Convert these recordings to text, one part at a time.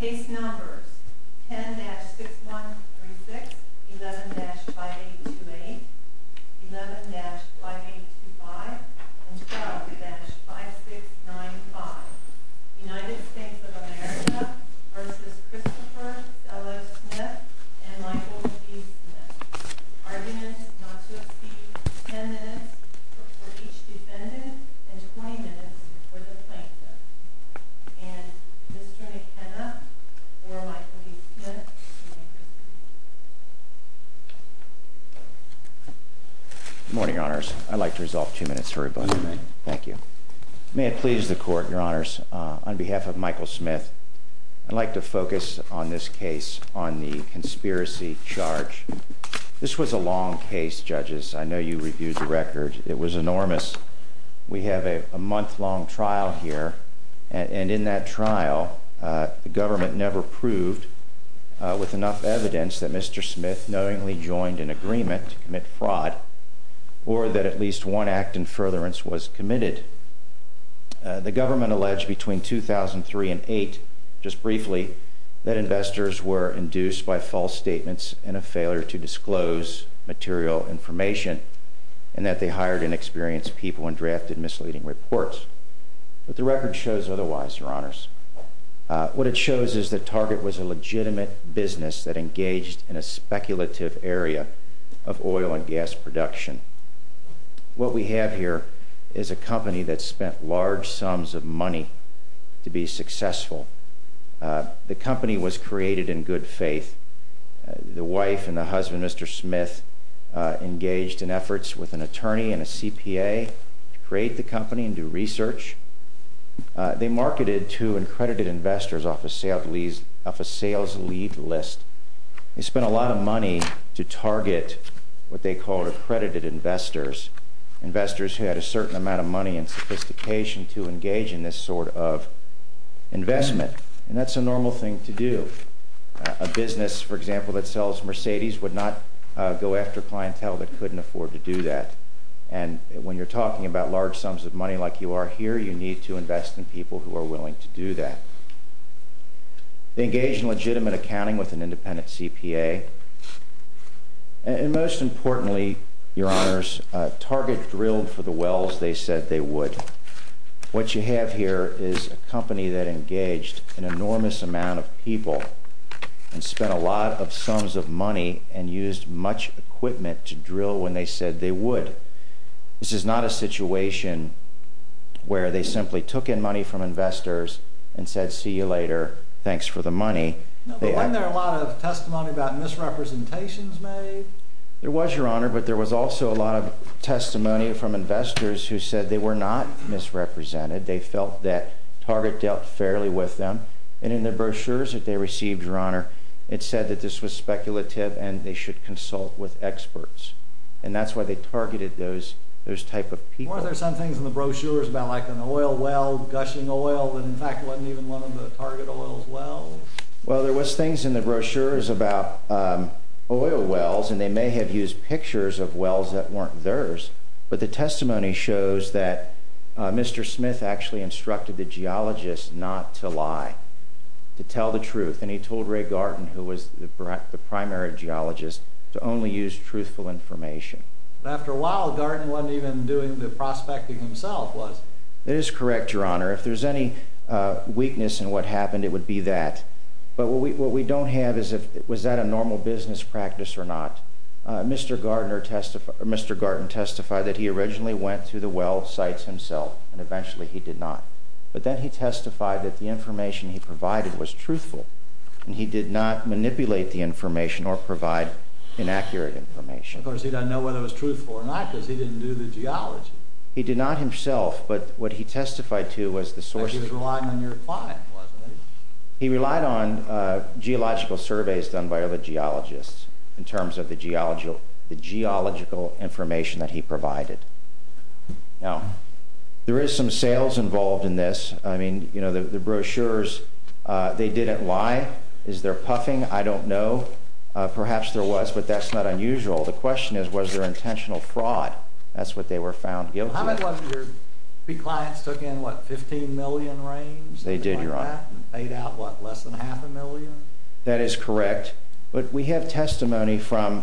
10-6136, 11-5828, 11-5825, and 12-5695 United States of America v. Christopher F. Smith and Michael P. Smith Arguments not to exceed 10 minutes for each defendant and 20 minutes for the plaintiff. And Mr. McKenna or Michael P. Smith may proceed. This was a long case, judges. I know you reviewed the record. It was enormous. We have a month-long trial here, and in that trial, the government never proved, with enough evidence, that Mr. Smith knowingly joined an agreement to commit fraud or that at least one act in furtherance was committed. The government alleged between 2003 and 2008, just briefly, that investors were induced by false statements and a failure to disclose material information and that they hired inexperienced people and drafted misleading reports. But the record shows otherwise, Your Honors. What it shows is that Target was a legitimate business that engaged in a speculative area of oil and gas production. What we have here is a company that spent large sums of money to be successful. The company was created in good faith. The wife and the husband, Mr. Smith, engaged in efforts with an attorney and a CPA to create the company and do research. They marketed to accredited investors off a sales lead list. They spent a lot of money to target what they called accredited investors, investors who had a certain amount of money and sophistication to engage in this sort of investment. And that's a normal thing to do. A business, for example, that sells Mercedes would not go after clientele that couldn't afford to do that. And when you're talking about large sums of money like you are here, you need to invest in people who are willing to do that. They engaged in legitimate accounting with an independent CPA. And most importantly, Your Honors, Target drilled for the wells they said they would. What you have here is a company that engaged an enormous amount of people and spent a lot of sums of money and used much equipment to drill when they said they would. This is not a situation where they simply took in money from investors and said, see you later, thanks for the money. Wasn't there a lot of testimony about misrepresentations made? There was, Your Honor, but there was also a lot of testimony from investors who said they were not misrepresented. They felt that Target dealt fairly with them. And in their brochures that they received, Your Honor, it said that this was speculative and they should consult with experts. And that's why they targeted those type of people. Weren't there some things in the brochures about like an oil well gushing oil that in fact wasn't even one of the Target oil's wells? Well, there was things in the brochures about oil wells, and they may have used pictures of wells that weren't theirs. But the testimony shows that Mr. Smith actually instructed the geologist not to lie, to tell the truth. And he told Ray Garton, who was the primary geologist, to only use truthful information. But after a while, Garton wasn't even doing the prospecting himself, was he? That is correct, Your Honor. If there's any weakness in what happened, it would be that. But what we don't have is was that a normal business practice or not. Mr. Garton testified that he originally went to the well sites himself, and eventually he did not. But then he testified that the information he provided was truthful, and he did not manipulate the information or provide inaccurate information. Of course, he doesn't know whether it was truthful or not because he didn't do the geology. He did not himself, but what he testified to was the sources. But he was relying on your client, wasn't he? He relied on geological surveys done by other geologists in terms of the geological information that he provided. Now, there is some sales involved in this. I mean, you know, the brochures, they didn't lie. Is there puffing? I don't know. Perhaps there was, but that's not unusual. The question is, was there intentional fraud? That's what they were found guilty of. How many of your clients took in, what, 15 million range? They did, Your Honor. And paid out, what, less than half a million? That is correct. But we have testimony from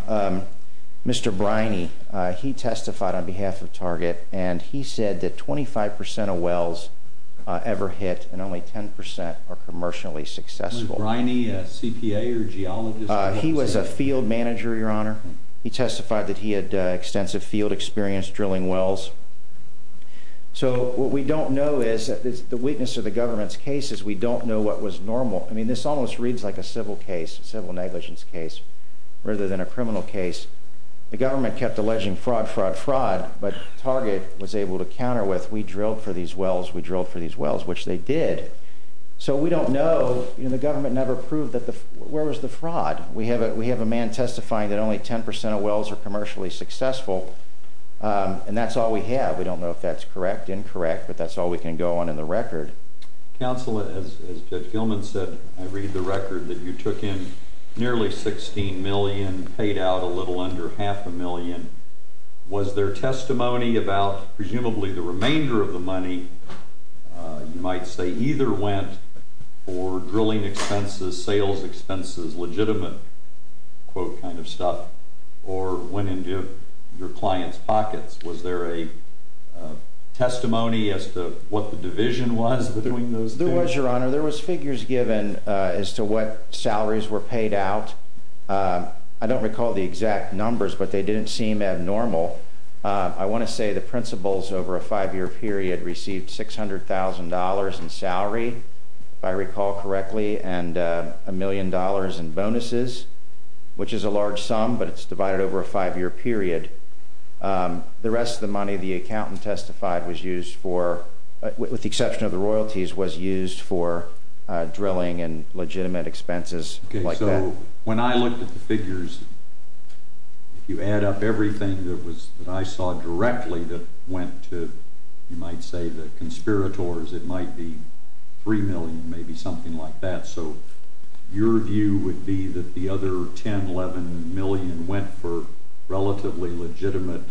Mr. Briney. He testified on behalf of Target, and he said that 25 percent of wells ever hit, and only 10 percent are commercially successful. Was Briney a CPA or geologist? He was a field manager, Your Honor. He testified that he had extensive field experience drilling wells. So what we don't know is, the weakness of the government's case is we don't know what was normal. I mean, this almost reads like a civil case, a civil negligence case, rather than a criminal case. The government kept alleging fraud, fraud, fraud, but Target was able to counter with, we drilled for these wells, we drilled for these wells, which they did. So we don't know. You know, the government never proved where was the fraud. We have a man testifying that only 10 percent of wells are commercially successful, and that's all we have. We don't know if that's correct, incorrect, but that's all we can go on in the record. Counsel, as Judge Gilman said, I read the record that you took in nearly $16 million, paid out a little under half a million. Was there testimony about presumably the remainder of the money, you might say, either went for drilling expenses, sales expenses, legitimate, quote, kind of stuff, or went into your clients' pockets? Was there a testimony as to what the division was between those things? There was, Your Honor. There was figures given as to what salaries were paid out. I don't recall the exact numbers, but they didn't seem abnormal. I want to say the principals over a five-year period received $600,000 in salary, if I recall correctly, and a million dollars in bonuses, which is a large sum, but it's divided over a five-year period. The rest of the money the accountant testified was used for, with the exception of the royalties, was used for drilling and legitimate expenses like that. Okay, so when I looked at the figures, if you add up everything that I saw directly that went to, you might say, the conspirators, it might be $3 million, maybe something like that. So your view would be that the other $10 million, $11 million went for relatively legitimate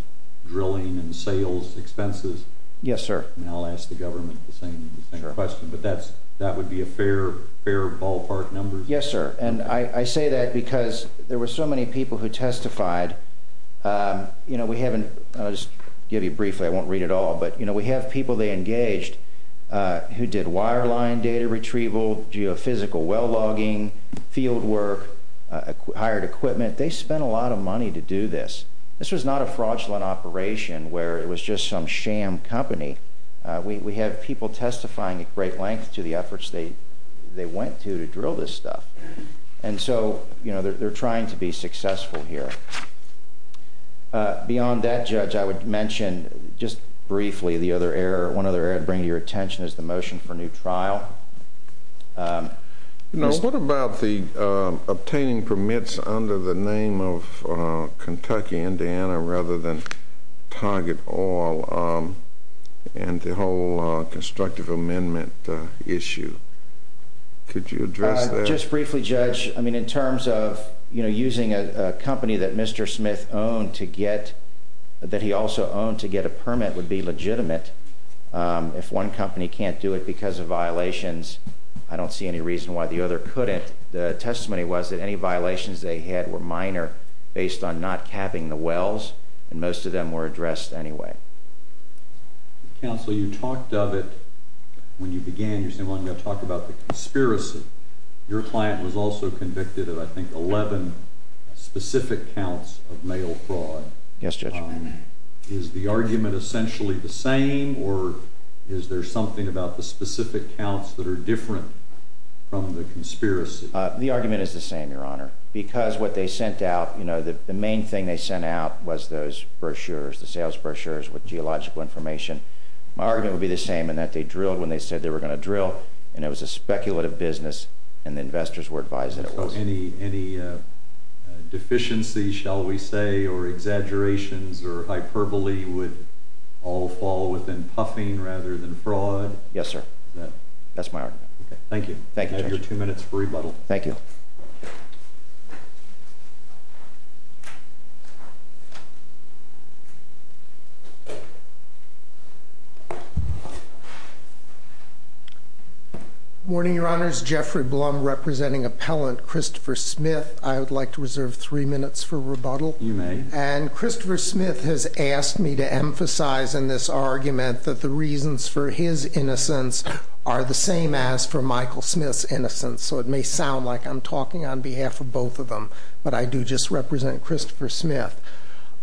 drilling and sales expenses? Yes, sir. I'll ask the government the same question, but that would be a fair ballpark number? Yes, sir. And I say that because there were so many people who testified. I'll just give you briefly. I won't read it all. But we have people they engaged who did wireline data retrieval, geophysical well logging, field work, hired equipment. They spent a lot of money to do this. This was not a fraudulent operation where it was just some sham company. We have people testifying at great length to the efforts they went to to drill this stuff. And so they're trying to be successful here. Beyond that, Judge, I would mention just briefly one other area I'd bring to your attention is the motion for a new trial. What about obtaining permits under the name of Kentucky, Indiana, rather than Target Oil and the whole constructive amendment issue? Could you address that? Well, just briefly, Judge. I mean, in terms of using a company that Mr. Smith owned to get – that he also owned to get a permit would be legitimate. If one company can't do it because of violations, I don't see any reason why the other couldn't. The testimony was that any violations they had were minor based on not capping the wells, and most of them were addressed anyway. Counsel, you talked of it when you began. You said, well, I'm going to talk about the conspiracy. Your client was also convicted of, I think, 11 specific counts of mail fraud. Yes, Judge. Is the argument essentially the same, or is there something about the specific counts that are different from the conspiracy? The argument is the same, Your Honor. Because what they sent out, you know, the main thing they sent out was those brochures, the sales brochures with geological information. My argument would be the same in that they drilled when they said they were going to drill, and it was a speculative business, and the investors were advised that it was. So any deficiency, shall we say, or exaggerations or hyperbole would all fall within puffing rather than fraud? Yes, sir. That's my argument. Okay. Thank you. Thank you, Judge. You have your two minutes for rebuttal. Thank you. Good morning, Your Honors. Jeffrey Blum representing Appellant Christopher Smith. I would like to reserve three minutes for rebuttal. You may. And Christopher Smith has asked me to emphasize in this argument that the reasons for his innocence are the same as for Michael Smith's innocence. So it may sound like I'm talking on behalf of both of them, but I do just represent Christopher Smith.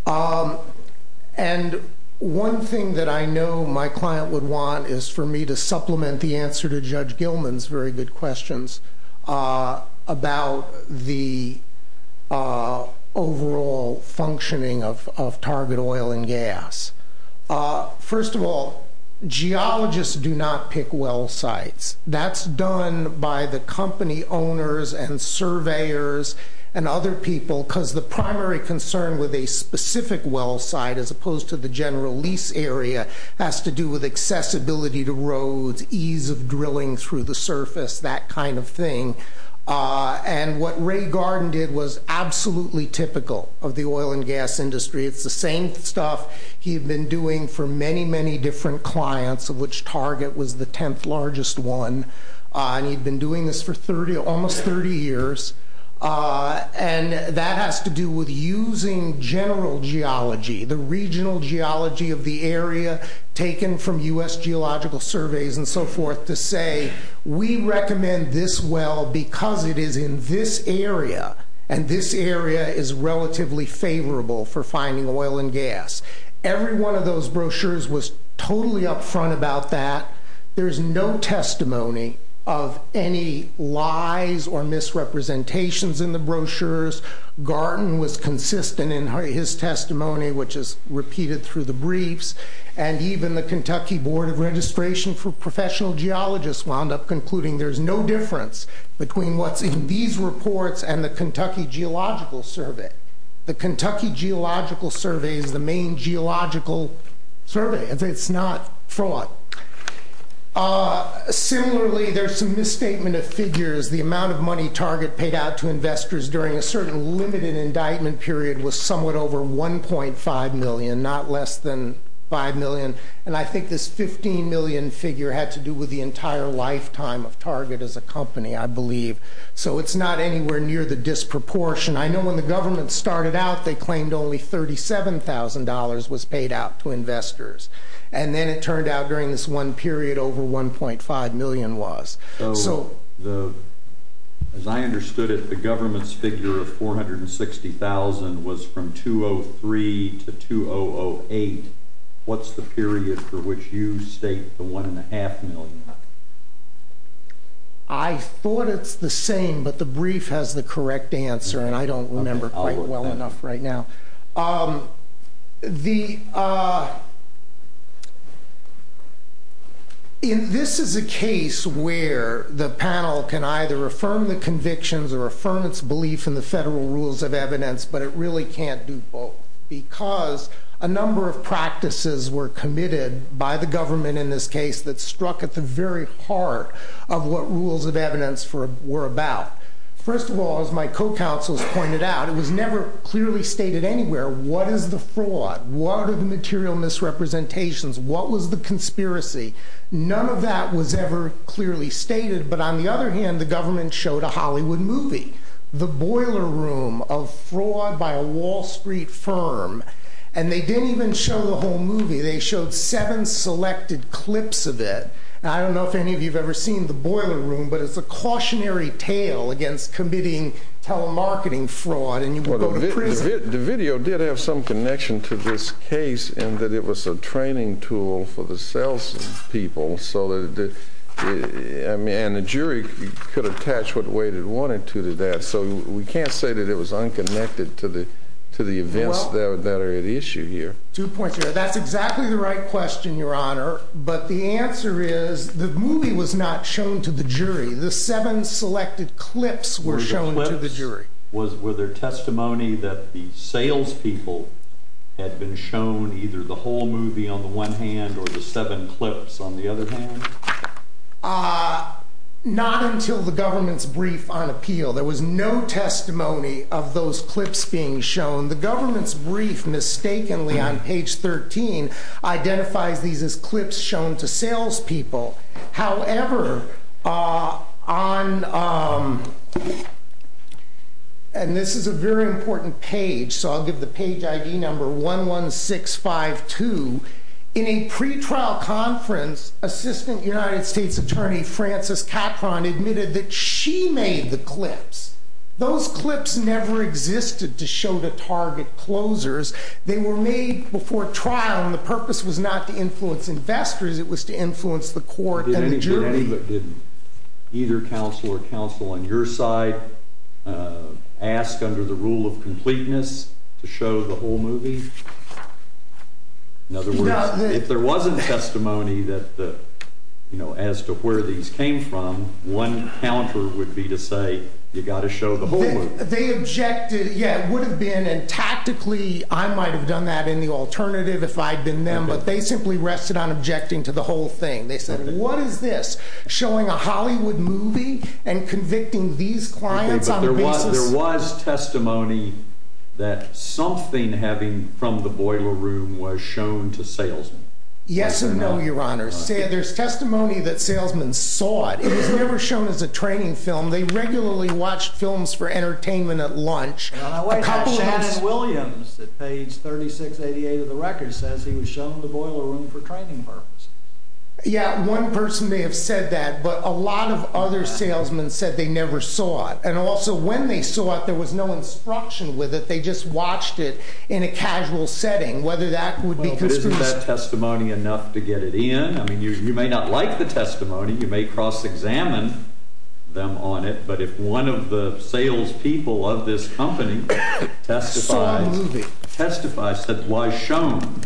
And one thing that I know my client would want is for me to supplement the answer to Judge Gilman's very good questions about the overall functioning of target oil and gas. First of all, geologists do not pick well sites. That's done by the company owners and surveyors and other people because the primary concern with a specific well site, as opposed to the general lease area, has to do with accessibility to roads, ease of drilling through the surface, that kind of thing. And what Ray Garden did was absolutely typical of the oil and gas industry. It's the same stuff he had been doing for many, many different clients, of which Target was the 10th largest one. And he'd been doing this for almost 30 years. And that has to do with using general geology, the regional geology of the area taken from U.S. geological surveys and so forth, we recommend this well because it is in this area, and this area is relatively favorable for finding oil and gas. Every one of those brochures was totally upfront about that. There's no testimony of any lies or misrepresentations in the brochures. Garden was consistent in his testimony, which is repeated through the briefs. And even the Kentucky Board of Registration for Professional Geologists wound up concluding there's no difference between what's in these reports and the Kentucky Geological Survey. The Kentucky Geological Survey is the main geological survey. It's not fraud. Similarly, there's some misstatement of figures. The amount of money Target paid out to investors during a certain limited indictment period was somewhat over $1.5 million, not less than $5 million. And I think this $15 million figure had to do with the entire lifetime of Target as a company, I believe. So it's not anywhere near the disproportion. I know when the government started out, they claimed only $37,000 was paid out to investors. And then it turned out during this one period over $1.5 million was. So as I understood it, the government's figure of $460,000 was from 2003 to 2008. What's the period for which you state the $1.5 million? I thought it's the same, but the brief has the correct answer, and I don't remember quite well enough right now. This is a case where the panel can either affirm the convictions or affirm its belief in the federal rules of evidence, but it really can't do both. Because a number of practices were committed by the government in this case that struck at the very heart of what rules of evidence were about. First of all, as my co-counsels pointed out, it was never clearly stated anywhere, what is the fraud? What are the material misrepresentations? What was the conspiracy? None of that was ever clearly stated. But on the other hand, the government showed a Hollywood movie, The Boiler Room of Fraud by a Wall Street Firm. And they didn't even show the whole movie. They showed seven selected clips of it. I don't know if any of you have ever seen The Boiler Room, but it's a cautionary tale against committing telemarketing fraud and you can go to prison. The video did have some connection to this case in that it was a training tool for the salespeople. And the jury could attach what weight it wanted to to that. So we can't say that it was unconnected to the events that are at issue here. That's exactly the right question, Your Honor. But the answer is the movie was not shown to the jury. The seven selected clips were shown to the jury. Were there testimony that the salespeople had been shown either the whole movie on the one hand or the seven clips on the other hand? Not until the government's brief on appeal. There was no testimony of those clips being shown. The government's brief mistakenly on page 13 identifies these as clips shown to salespeople. However, on, and this is a very important page, so I'll give the page ID number 11652. In a pretrial conference, Assistant United States Attorney Frances Capron admitted that she made the clips. Those clips never existed to show the target closers. They were made before trial, and the purpose was not to influence investors. It was to influence the court and the jury. Did either counsel or counsel on your side ask under the rule of completeness to show the whole movie? In other words, if there wasn't testimony that, you know, as to where these came from, one counter would be to say, you've got to show the whole movie. They objected, yeah, would have been, and tactically, I might have done that in the alternative if I'd been them, but they simply rested on objecting to the whole thing. They said, what is this, showing a Hollywood movie and convicting these clients on a basis? There was testimony that something having from the boiler room was shown to salesmen. Yes or no, Your Honor. There's testimony that salesmen saw it. It was never shown as a training film. They regularly watched films for entertainment at lunch. Now, wait a minute. Chad Williams at page 3688 of the record says he was shown the boiler room for training purposes. Yeah, one person may have said that, but a lot of other salesmen said they never saw it. And also, when they saw it, there was no instruction with it. They just watched it in a casual setting, whether that would be conscription. Well, but isn't that testimony enough to get it in? I mean, you may not like the testimony. You may cross-examine them on it. But if one of the salespeople of this company testified, said, was shown,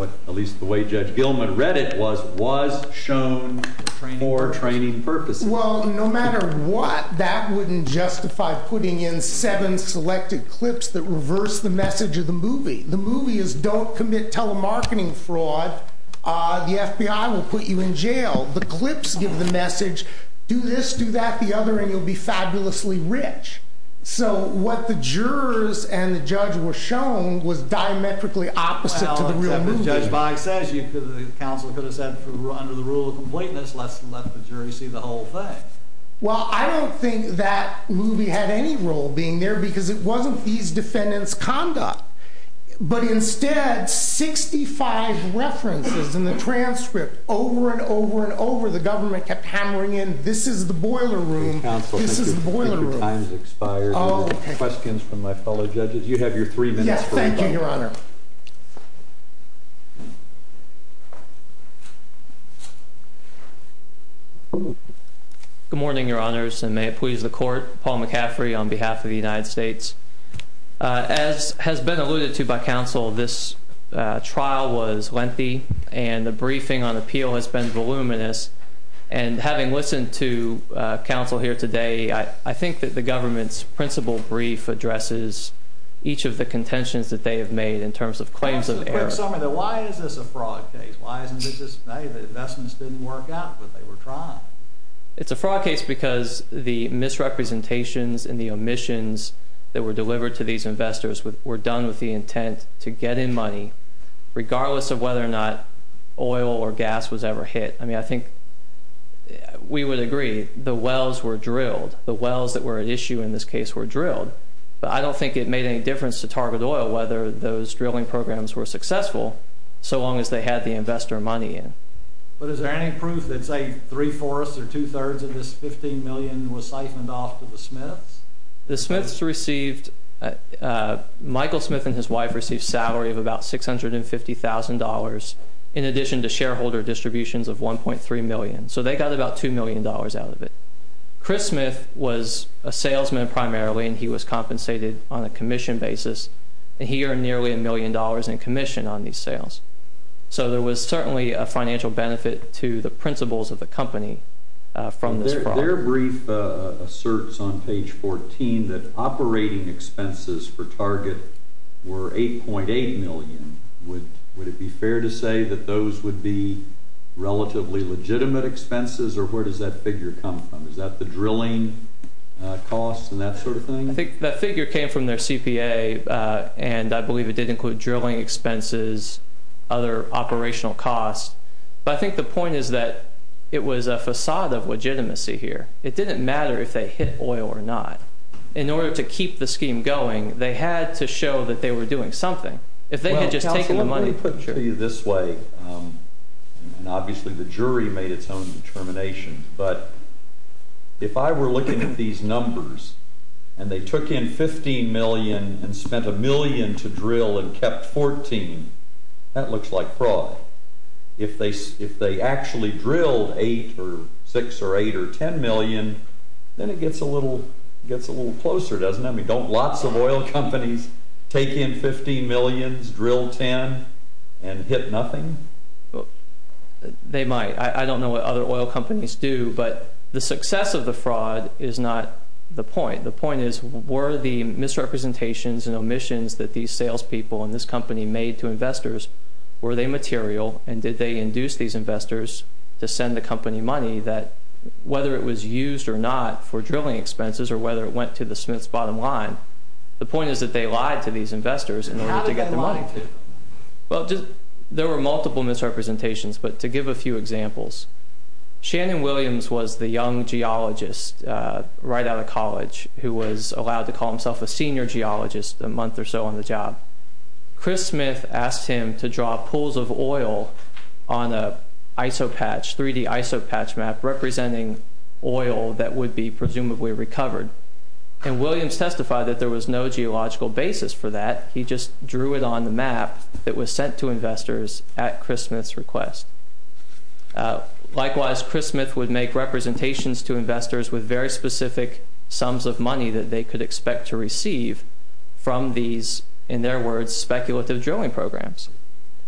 at least the way Judge Gilman read it was, was shown for training purposes. Well, no matter what, that wouldn't justify putting in seven selected clips that reverse the message of the movie. The movie is, don't commit telemarketing fraud. The FBI will put you in jail. The clips give the message, do this, do that, the other, and you'll be fabulously rich. So what the jurors and the judge were shown was diametrically opposite to the real movie. Judge Boggs says the counsel could have said, under the rule of completeness, let's let the jury see the whole thing. Well, I don't think that movie had any role being there, because it wasn't these defendants' conduct. But instead, 65 references in the transcript, over and over and over, the government kept hammering in, this is the boiler room, this is the boiler room. Counsel, thank you. Your time has expired. Oh, okay. Questions from my fellow judges. You have your three minutes for rebuttal. Yes, thank you, Your Honor. Good morning, Your Honors, and may it please the court. Paul McCaffrey on behalf of the United States. As has been alluded to by counsel, this trial was lengthy, and the briefing on appeal has been voluminous. And having listened to counsel here today, I think that the government's principal brief addresses each of the contentions that they have made in terms of claims of error. Why is this a fraud case? Why is it that the investments didn't work out the way they were trying? It's a fraud case because the misrepresentations and the omissions that were delivered to these investors were done with the intent to get in money, regardless of whether or not oil or gas was ever hit. I mean, I think we would agree the wells were drilled. But I don't think it made any difference to Target Oil whether those drilling programs were successful so long as they had the investor money in. But is there any proof that, say, three-fourths or two-thirds of this $15 million was siphoned off to the Smiths? The Smiths received – Michael Smith and his wife received salary of about $650,000 in addition to shareholder distributions of $1.3 million. So they got about $2 million out of it. Chris Smith was a salesman primarily, and he was compensated on a commission basis. And he earned nearly $1 million in commission on these sales. So there was certainly a financial benefit to the principals of the company from this fraud. Their brief asserts on page 14 that operating expenses for Target were $8.8 million. Would it be fair to say that those would be relatively legitimate expenses, or where does that figure come from? Is that the drilling costs and that sort of thing? I think that figure came from their CPA, and I believe it did include drilling expenses, other operational costs. But I think the point is that it was a facade of legitimacy here. It didn't matter if they hit oil or not. In order to keep the scheme going, they had to show that they were doing something. If they had just taken the money— Well, counsel, let me put it to you this way, and obviously the jury made its own determination, but if I were looking at these numbers and they took in $15 million and spent $1 million to drill and kept $14, that looks like fraud. If they actually drilled $8 or $6 or $8 or $10 million, then it gets a little closer, doesn't it? I mean, don't lots of oil companies take in $15 million, drill $10, and hit nothing? They might. I don't know what other oil companies do, but the success of the fraud is not the point. The point is, were the misrepresentations and omissions that these salespeople and this company made to investors, were they material and did they induce these investors to send the company money that, whether it was used or not for drilling expenses or whether it went to the Smith's bottom line, the point is that they lied to these investors in order to get their money. How did they lie? Well, there were multiple misrepresentations, but to give a few examples, Shannon Williams was the young geologist right out of college who was allowed to call himself a senior geologist a month or so on the job. Chris Smith asked him to draw pools of oil on a 3D isopatch map representing oil that would be presumably recovered. And Williams testified that there was no geological basis for that. He just drew it on the map that was sent to investors at Chris Smith's request. Likewise, Chris Smith would make representations to investors with very specific sums of money that they could expect to receive from these, in their words, speculative drilling programs.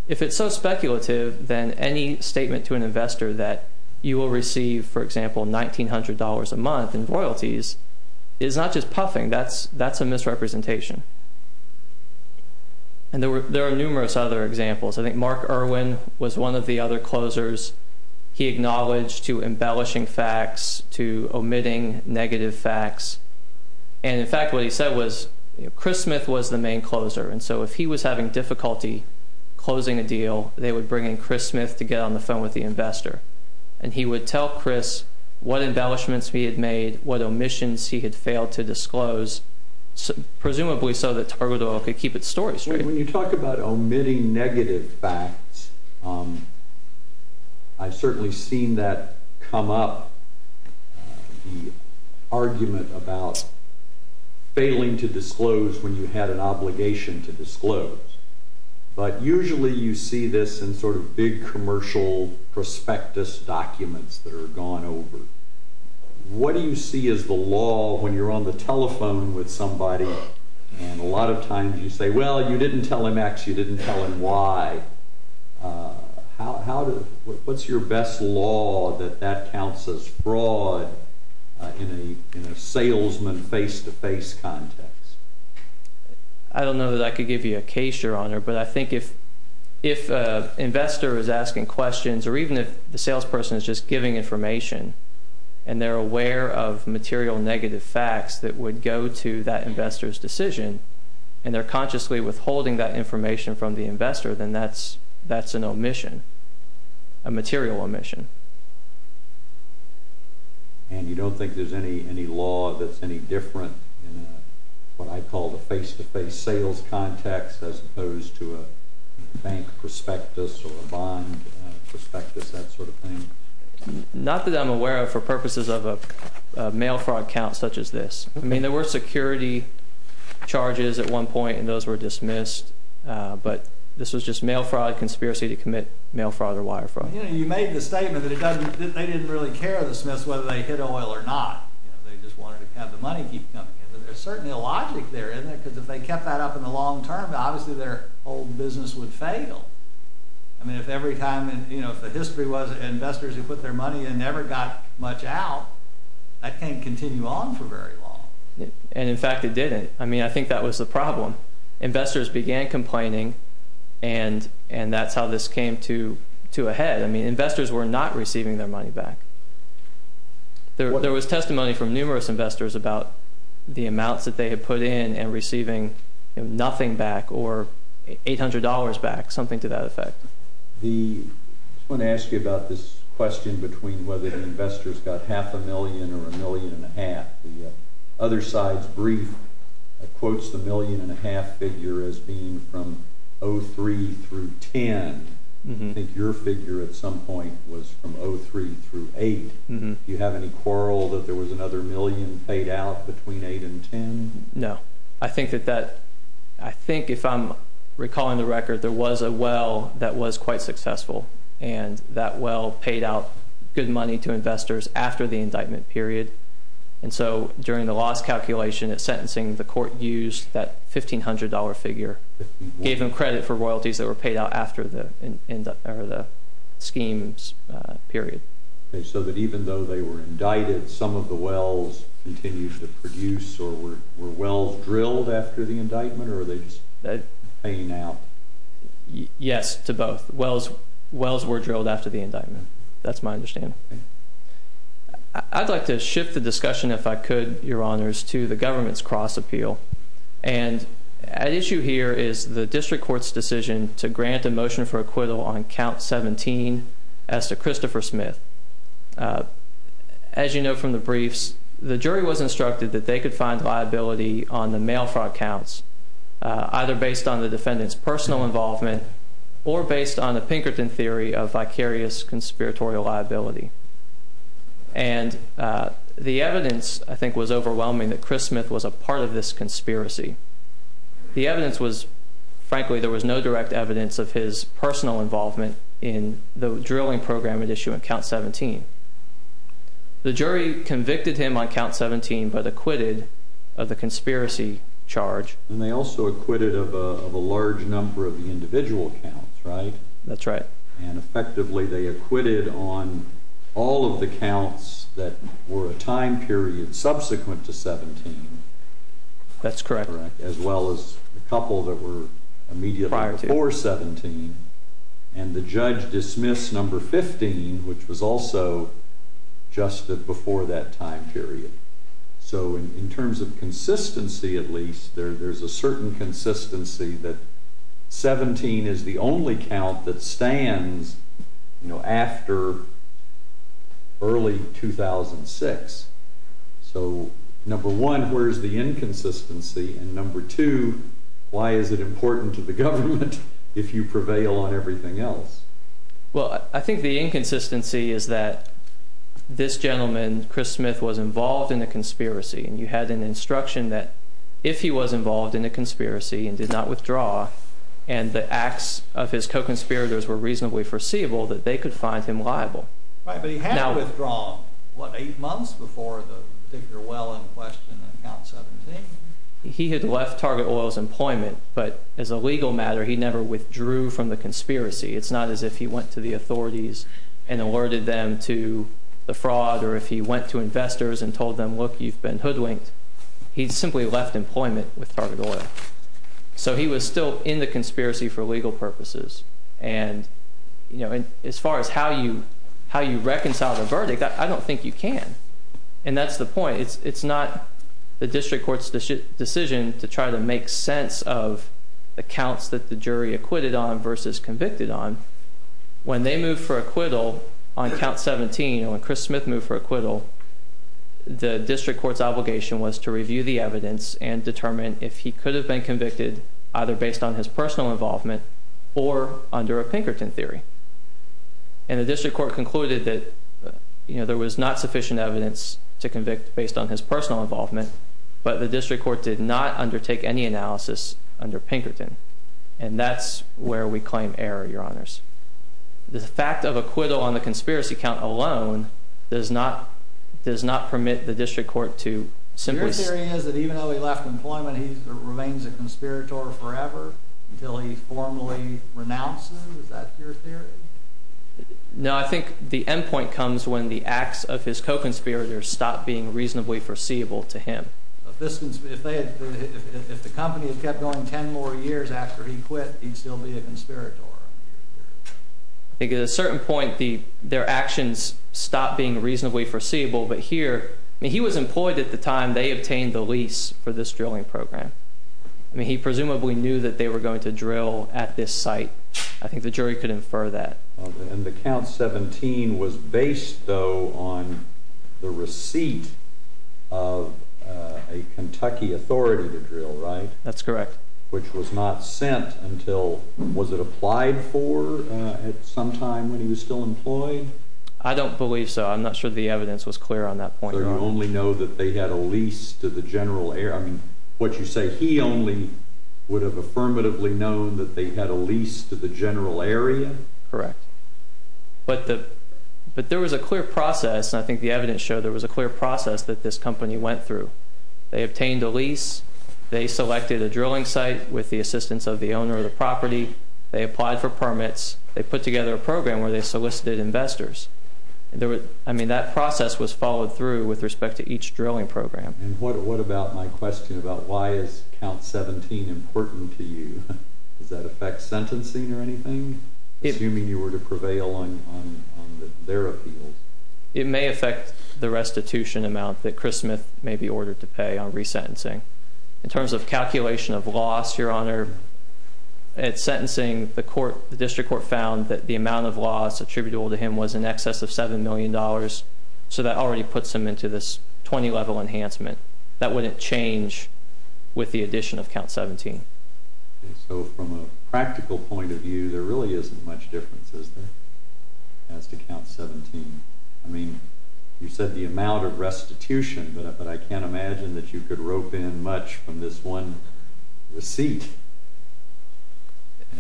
If it's so speculative, then any statement to an investor that you will receive, for example, $1,900 a month in royalties is not just puffing. That's a misrepresentation. And there are numerous other examples. I think Mark Irwin was one of the other closers. He acknowledged to embellishing facts, to omitting negative facts. And, in fact, what he said was Chris Smith was the main closer. And so if he was having difficulty closing a deal, they would bring in Chris Smith to get on the phone with the investor. And he would tell Chris what embellishments he had made, what omissions he had failed to disclose, presumably so that Targot Oil could keep its story straight. When you talk about omitting negative facts, I've certainly seen that come up, the argument about failing to disclose when you had an obligation to disclose. But usually you see this in sort of big commercial prospectus documents that are gone over. What do you see as the law when you're on the telephone with somebody and a lot of times you say, well, you didn't tell him X, you didn't tell him Y. What's your best law that that counts as fraud in a salesman face-to-face context? I don't know that I could give you a case, Your Honor, but I think if an investor is asking questions or even if the salesperson is just giving information and they're aware of material negative facts that would go to that investor's decision and they're consciously withholding that information from the investor, then that's an omission, a material omission. And you don't think there's any law that's any different in what I call the face-to-face sales context as opposed to a bank prospectus or a bond prospectus, that sort of thing? Not that I'm aware of for purposes of a mail fraud count such as this. I mean, there were security charges at one point and those were dismissed, but this was just mail fraud conspiracy to commit mail fraud or wire fraud. You know, you made the statement that they didn't really care to dismiss whether they hit oil or not. They just wanted to have the money keep coming in. There's certainly a logic there, isn't there? Because if they kept that up in the long term, obviously their whole business would fail. I mean, if every time in the history was investors who put their money in and never got much out, that can't continue on for very long. And, in fact, it didn't. I mean, I think that was the problem. Investors began complaining and that's how this came to a head. I mean, investors were not receiving their money back. There was testimony from numerous investors about the amounts that they had put in and receiving nothing back or $800 back, something to that effect. I just want to ask you about this question between whether the investors got half a million or a million and a half. The other side's brief quotes the million and a half figure as being from 03 through 10. I think your figure at some point was from 03 through 8. Do you have any quarrel that there was another million paid out between 8 and 10? No. I think that if I'm recalling the record, there was a well that was quite successful and that well paid out good money to investors after the indictment period. And so during the loss calculation at sentencing, the court used that $1,500 figure, gave them credit for royalties that were paid out after the schemes period. So that even though they were indicted, some of the wells continued to produce or were wells drilled after the indictment or were they just paying out? Yes, to both. Wells were drilled after the indictment. That's my understanding. I'd like to shift the discussion, if I could, Your Honors, to the government's cross appeal. And at issue here is the district court's decision to grant a motion for acquittal on count 17 as to Christopher Smith. As you know from the briefs, the jury was instructed that they could find liability on the mail fraud counts, either based on the defendant's personal involvement or based on the Pinkerton theory of vicarious conspiratorial liability. And the evidence, I think, was overwhelming that Chris Smith was a part of this conspiracy. The evidence was, frankly, there was no direct evidence of his personal involvement in the drilling program at issue on count 17. The jury convicted him on count 17 but acquitted of the conspiracy charge. And they also acquitted of a large number of the individual counts, right? That's right. And effectively they acquitted on all of the counts that were a time period subsequent to 17. That's correct. As well as a couple that were immediately before 17. And the judge dismissed number 15, which was also just before that time period. So in terms of consistency, at least, there's a certain consistency that 17 is the only count that stands after early 2006. So number one, where's the inconsistency? And number two, why is it important to the government if you prevail on everything else? Well, I think the inconsistency is that this gentleman, Chris Smith, was involved in a conspiracy. And you had an instruction that if he was involved in a conspiracy and did not withdraw, and the acts of his co-conspirators were reasonably foreseeable, that they could find him liable. Right, but he had withdrawn, what, eight months before the particular well in question on count 17? He had left Target Oil's employment. But as a legal matter, he never withdrew from the conspiracy. It's not as if he went to the authorities and alerted them to the fraud, or if he went to investors and told them, look, you've been hoodwinked. He simply left employment with Target Oil. So he was still in the conspiracy for legal purposes. And as far as how you reconcile the verdict, I don't think you can. And that's the point. It's not the district court's decision to try to make sense of the counts that the jury acquitted on versus convicted on. When they moved for acquittal on count 17, or when Chris Smith moved for acquittal, the district court's obligation was to review the evidence and determine if he could have been convicted either based on his personal involvement or under a Pinkerton theory. And the district court concluded that there was not sufficient evidence to convict based on his personal involvement, but the district court did not undertake any analysis under Pinkerton. And that's where we claim error, Your Honors. The fact of acquittal on the conspiracy count alone does not permit the district court to simply— Your theory is that even though he left employment, he remains a conspirator forever until he formally renounces? Is that your theory? No, I think the end point comes when the acts of his co-conspirators stop being reasonably foreseeable to him. If the company had kept going 10 more years after he quit, he'd still be a conspirator? I think at a certain point, their actions stopped being reasonably foreseeable, but here— I mean, he was employed at the time they obtained the lease for this drilling program. I mean, he presumably knew that they were going to drill at this site. I think the jury could infer that. And the count 17 was based, though, on the receipt of a Kentucky authority to drill, right? That's correct. Which was not sent until—was it applied for at some time when he was still employed? I don't believe so. I'm not sure the evidence was clear on that point, Your Honor. I mean, what you say, he only would have affirmatively known that they had a lease to the general area? Correct. But there was a clear process, and I think the evidence showed there was a clear process that this company went through. They obtained a lease. They selected a drilling site with the assistance of the owner of the property. They applied for permits. They put together a program where they solicited investors. I mean, that process was followed through with respect to each drilling program. And what about my question about why is count 17 important to you? Does that affect sentencing or anything, assuming you were to prevail on their appeal? It may affect the restitution amount that Chris Smith may be ordered to pay on resentencing. In terms of calculation of loss, Your Honor, at sentencing, the district court found that the amount of loss attributable to him was in excess of $7 million, so that already puts him into this 20-level enhancement. That wouldn't change with the addition of count 17. So from a practical point of view, there really isn't much difference, is there, as to count 17? I mean, you said the amount of restitution, but I can't imagine that you could rope in much from this one receipt.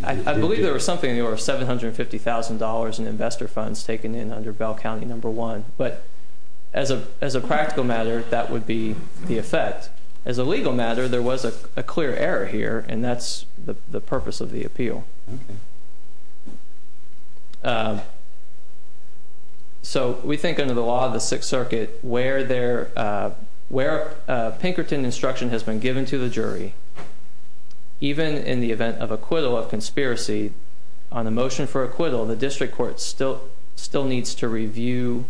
I believe there was something in the order of $750,000 in investor funds taken in under Bell County No. 1. But as a practical matter, that would be the effect. As a legal matter, there was a clear error here, and that's the purpose of the appeal. Okay. So we think under the law of the Sixth Circuit, where Pinkerton instruction has been given to the jury, even in the event of acquittal of conspiracy, on a motion for acquittal, the district court still needs to review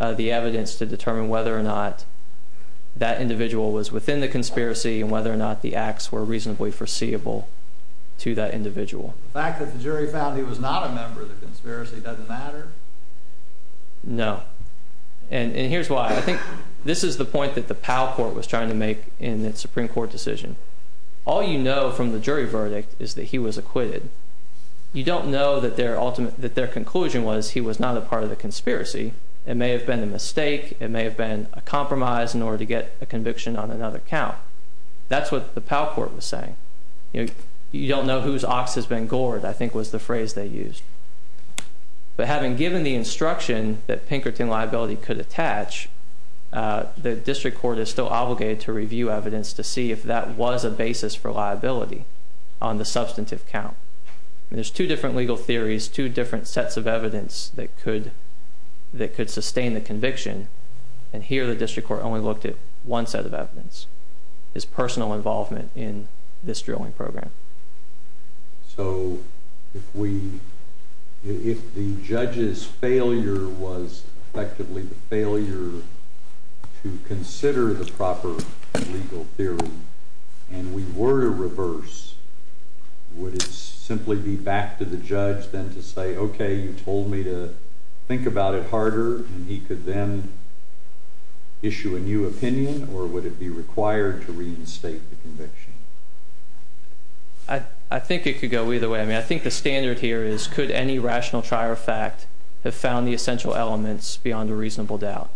the evidence to determine whether or not that individual was within the conspiracy and whether or not the acts were reasonably foreseeable to that individual. The fact that the jury found he was not a member of the conspiracy doesn't matter? No. And here's why. I think this is the point that the Powell Court was trying to make in its Supreme Court decision. All you know from the jury verdict is that he was acquitted. You don't know that their conclusion was he was not a part of the conspiracy. It may have been a mistake. It may have been a compromise in order to get a conviction on another count. That's what the Powell Court was saying. You don't know whose ox has been gored, I think was the phrase they used. But having given the instruction that Pinkerton liability could attach, the district court is still obligated to review evidence to see if that was a basis for liability on the substantive count. There's two different legal theories, two different sets of evidence that could sustain the conviction, and here the district court only looked at one set of evidence. It's personal involvement in this drilling program. So if the judge's failure was effectively the failure to consider the proper legal theory, and we were to reverse, would it simply be back to the judge then to say, okay, you told me to think about it harder, and he could then issue a new opinion, or would it be required to reinstate the conviction? I think it could go either way. I mean, I think the standard here is could any rational trier of fact have found the essential elements beyond a reasonable doubt?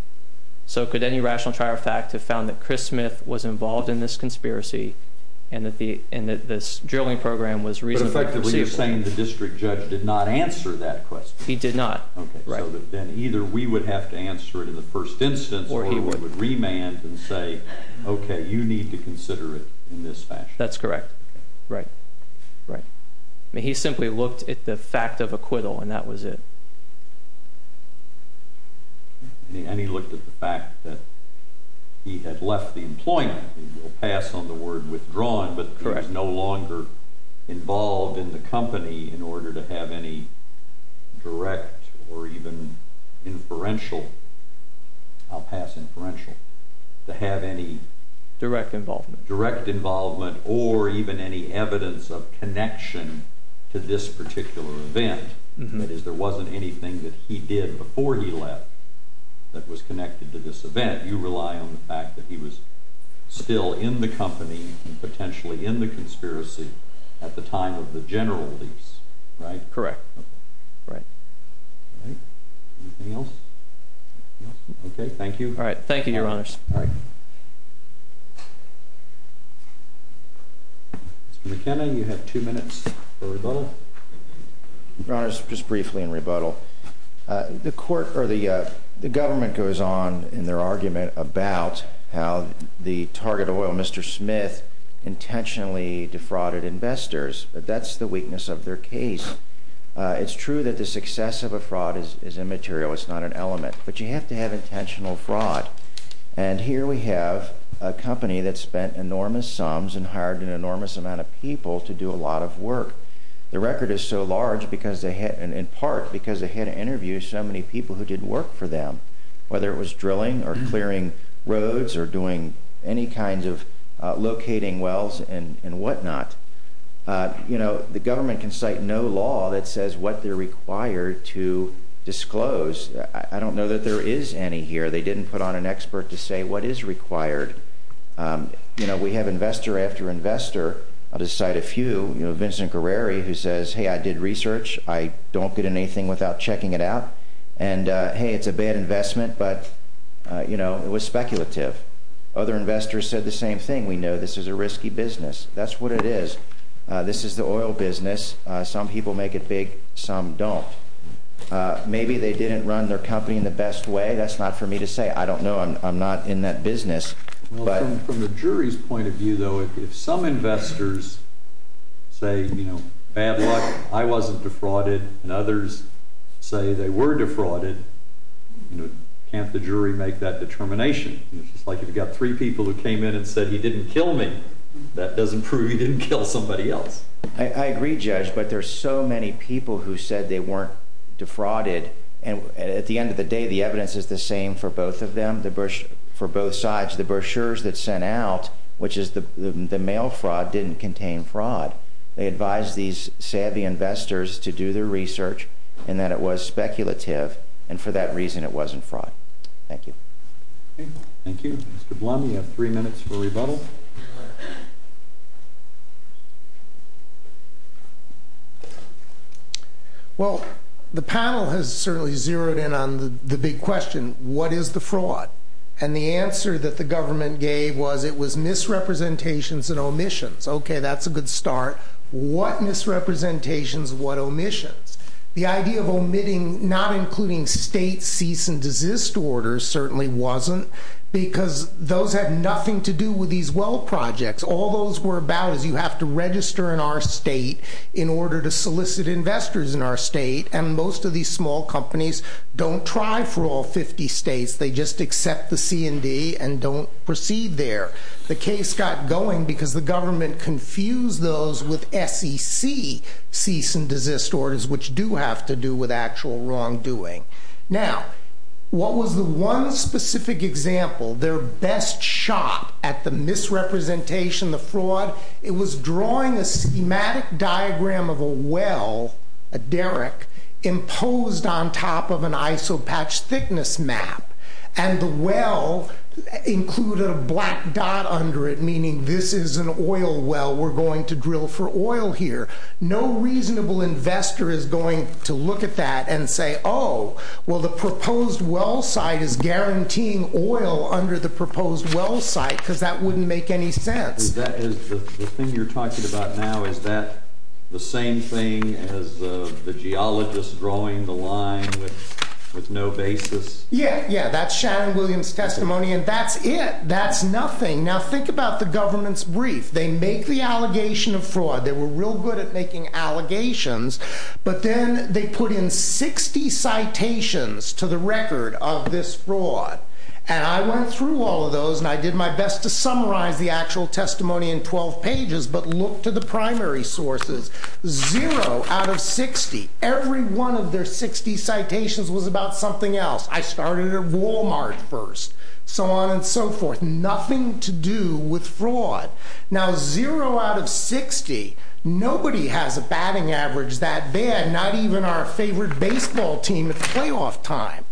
So could any rational trier of fact have found that Chris Smith was involved in this conspiracy and that this drilling program was reasonably conceivable? You're saying the district judge did not answer that question. He did not. Okay. So then either we would have to answer it in the first instance or he would remand and say, okay, you need to consider it in this fashion. That's correct. Right. Right. I mean, he simply looked at the fact of acquittal, and that was it. And he looked at the fact that he had left the employment. He will pass on the word withdrawn, but he was no longer involved in the company in order to have any direct or even inferential. I'll pass inferential. To have any direct involvement or even any evidence of connection to this particular event. That is, there wasn't anything that he did before he left that was connected to this event. You rely on the fact that he was still in the company and potentially in the conspiracy at the time of the general lease. Right? Correct. Right. Anything else? Okay. Thank you. All right. Thank you, Your Honors. All right. Mr. McKenna, you have two minutes for rebuttal. Your Honors, just briefly in rebuttal. The court or the government goes on in their argument about how the target oil, Mr. Smith, intentionally defrauded investors. But that's the weakness of their case. It's true that the success of a fraud is immaterial. It's not an element. But you have to have intentional fraud. And here we have a company that spent enormous sums and hired an enormous amount of people to do a lot of work. The record is so large in part because they had to interview so many people who did work for them, whether it was drilling or clearing roads or doing any kinds of locating wells and whatnot. You know, the government can cite no law that says what they're required to disclose. I don't know that there is any here. They didn't put on an expert to say what is required. You know, we have investor after investor. I'll just cite a few. You know, Vincent Guerreri, who says, hey, I did research. I don't get in anything without checking it out. And, hey, it's a bad investment. But, you know, it was speculative. Other investors said the same thing. We know this is a risky business. That's what it is. This is the oil business. Some people make it big. Some don't. Maybe they didn't run their company in the best way. That's not for me to say. I don't know. I'm not in that business. From the jury's point of view, though, if some investors say, you know, bad luck, I wasn't defrauded, and others say they were defrauded, can't the jury make that determination? It's like if you've got three people who came in and said he didn't kill me, that doesn't prove he didn't kill somebody else. I agree, Judge. But there are so many people who said they weren't defrauded. And at the end of the day, the evidence is the same for both of them, for both sides. The brochures that sent out, which is the mail fraud, didn't contain fraud. They advised these savvy investors to do their research and that it was speculative, and for that reason it wasn't fraud. Thank you. Thank you. Mr. Blum, you have three minutes for rebuttal. Well, the panel has certainly zeroed in on the big question, what is the fraud? And the answer that the government gave was it was misrepresentations and omissions. Okay, that's a good start. What misrepresentations, what omissions? The idea of omitting not including state cease and desist orders certainly wasn't, because those had nothing to do with these wealth projects. All those were about is you have to register in our state in order to solicit investors in our state, and most of these small companies don't try for all 50 states. They just accept the C&D and don't proceed there. The case got going because the government confused those with SEC cease and desist orders, which do have to do with actual wrongdoing. Now, what was the one specific example, their best shot at the misrepresentation, the fraud? It was drawing a schematic diagram of a well, a derrick, imposed on top of an isopatch thickness map, and the well included a black dot under it, meaning this is an oil well. We're going to drill for oil here. No reasonable investor is going to look at that and say, oh, well, the proposed well site is guaranteeing oil under the proposed well site, because that wouldn't make any sense. The thing you're talking about now, is that the same thing as the geologist drawing the line with no basis? Yeah, that's Shannon Williams' testimony, and that's it. That's nothing. Now, think about the government's brief. They make the allegation of fraud. They were real good at making allegations, but then they put in 60 citations to the record of this fraud, and I went through all of those, and I did my best to summarize the actual testimony in 12 pages, but look to the primary sources. Zero out of 60, every one of their 60 citations was about something else. I started at Walmart first, so on and so forth. Nothing to do with fraud. Now, zero out of 60, nobody has a batting average that bad, not even our favorite baseball team at playoff time.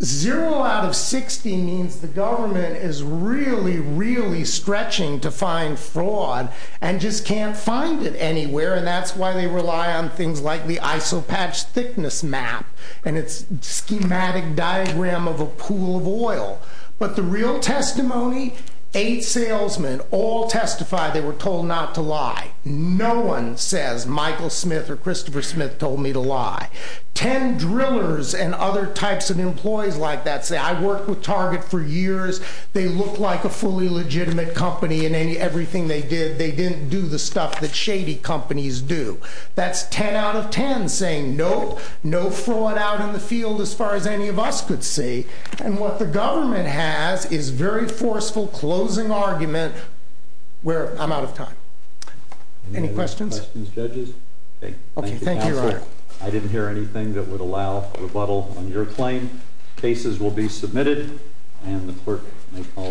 Zero out of 60 means the government is really, really stretching to find fraud, and just can't find it anywhere, and that's why they rely on things like the isopatch thickness map, and its schematic diagram of a pool of oil. But the real testimony, eight salesmen all testified they were told not to lie. No one says Michael Smith or Christopher Smith told me to lie. Ten drillers and other types of employees like that say, I worked with Target for years. They look like a fully legitimate company in everything they did. They didn't do the stuff that shady companies do. That's ten out of ten saying, nope, no fraud out in the field as far as any of us could see, and what the government has is very forceful closing argument where I'm out of time. Any questions? Questions, judges? Thank you, counsel. I didn't hear anything that would allow rebuttal on your claim. Cases will be submitted, and the clerk may call the next case.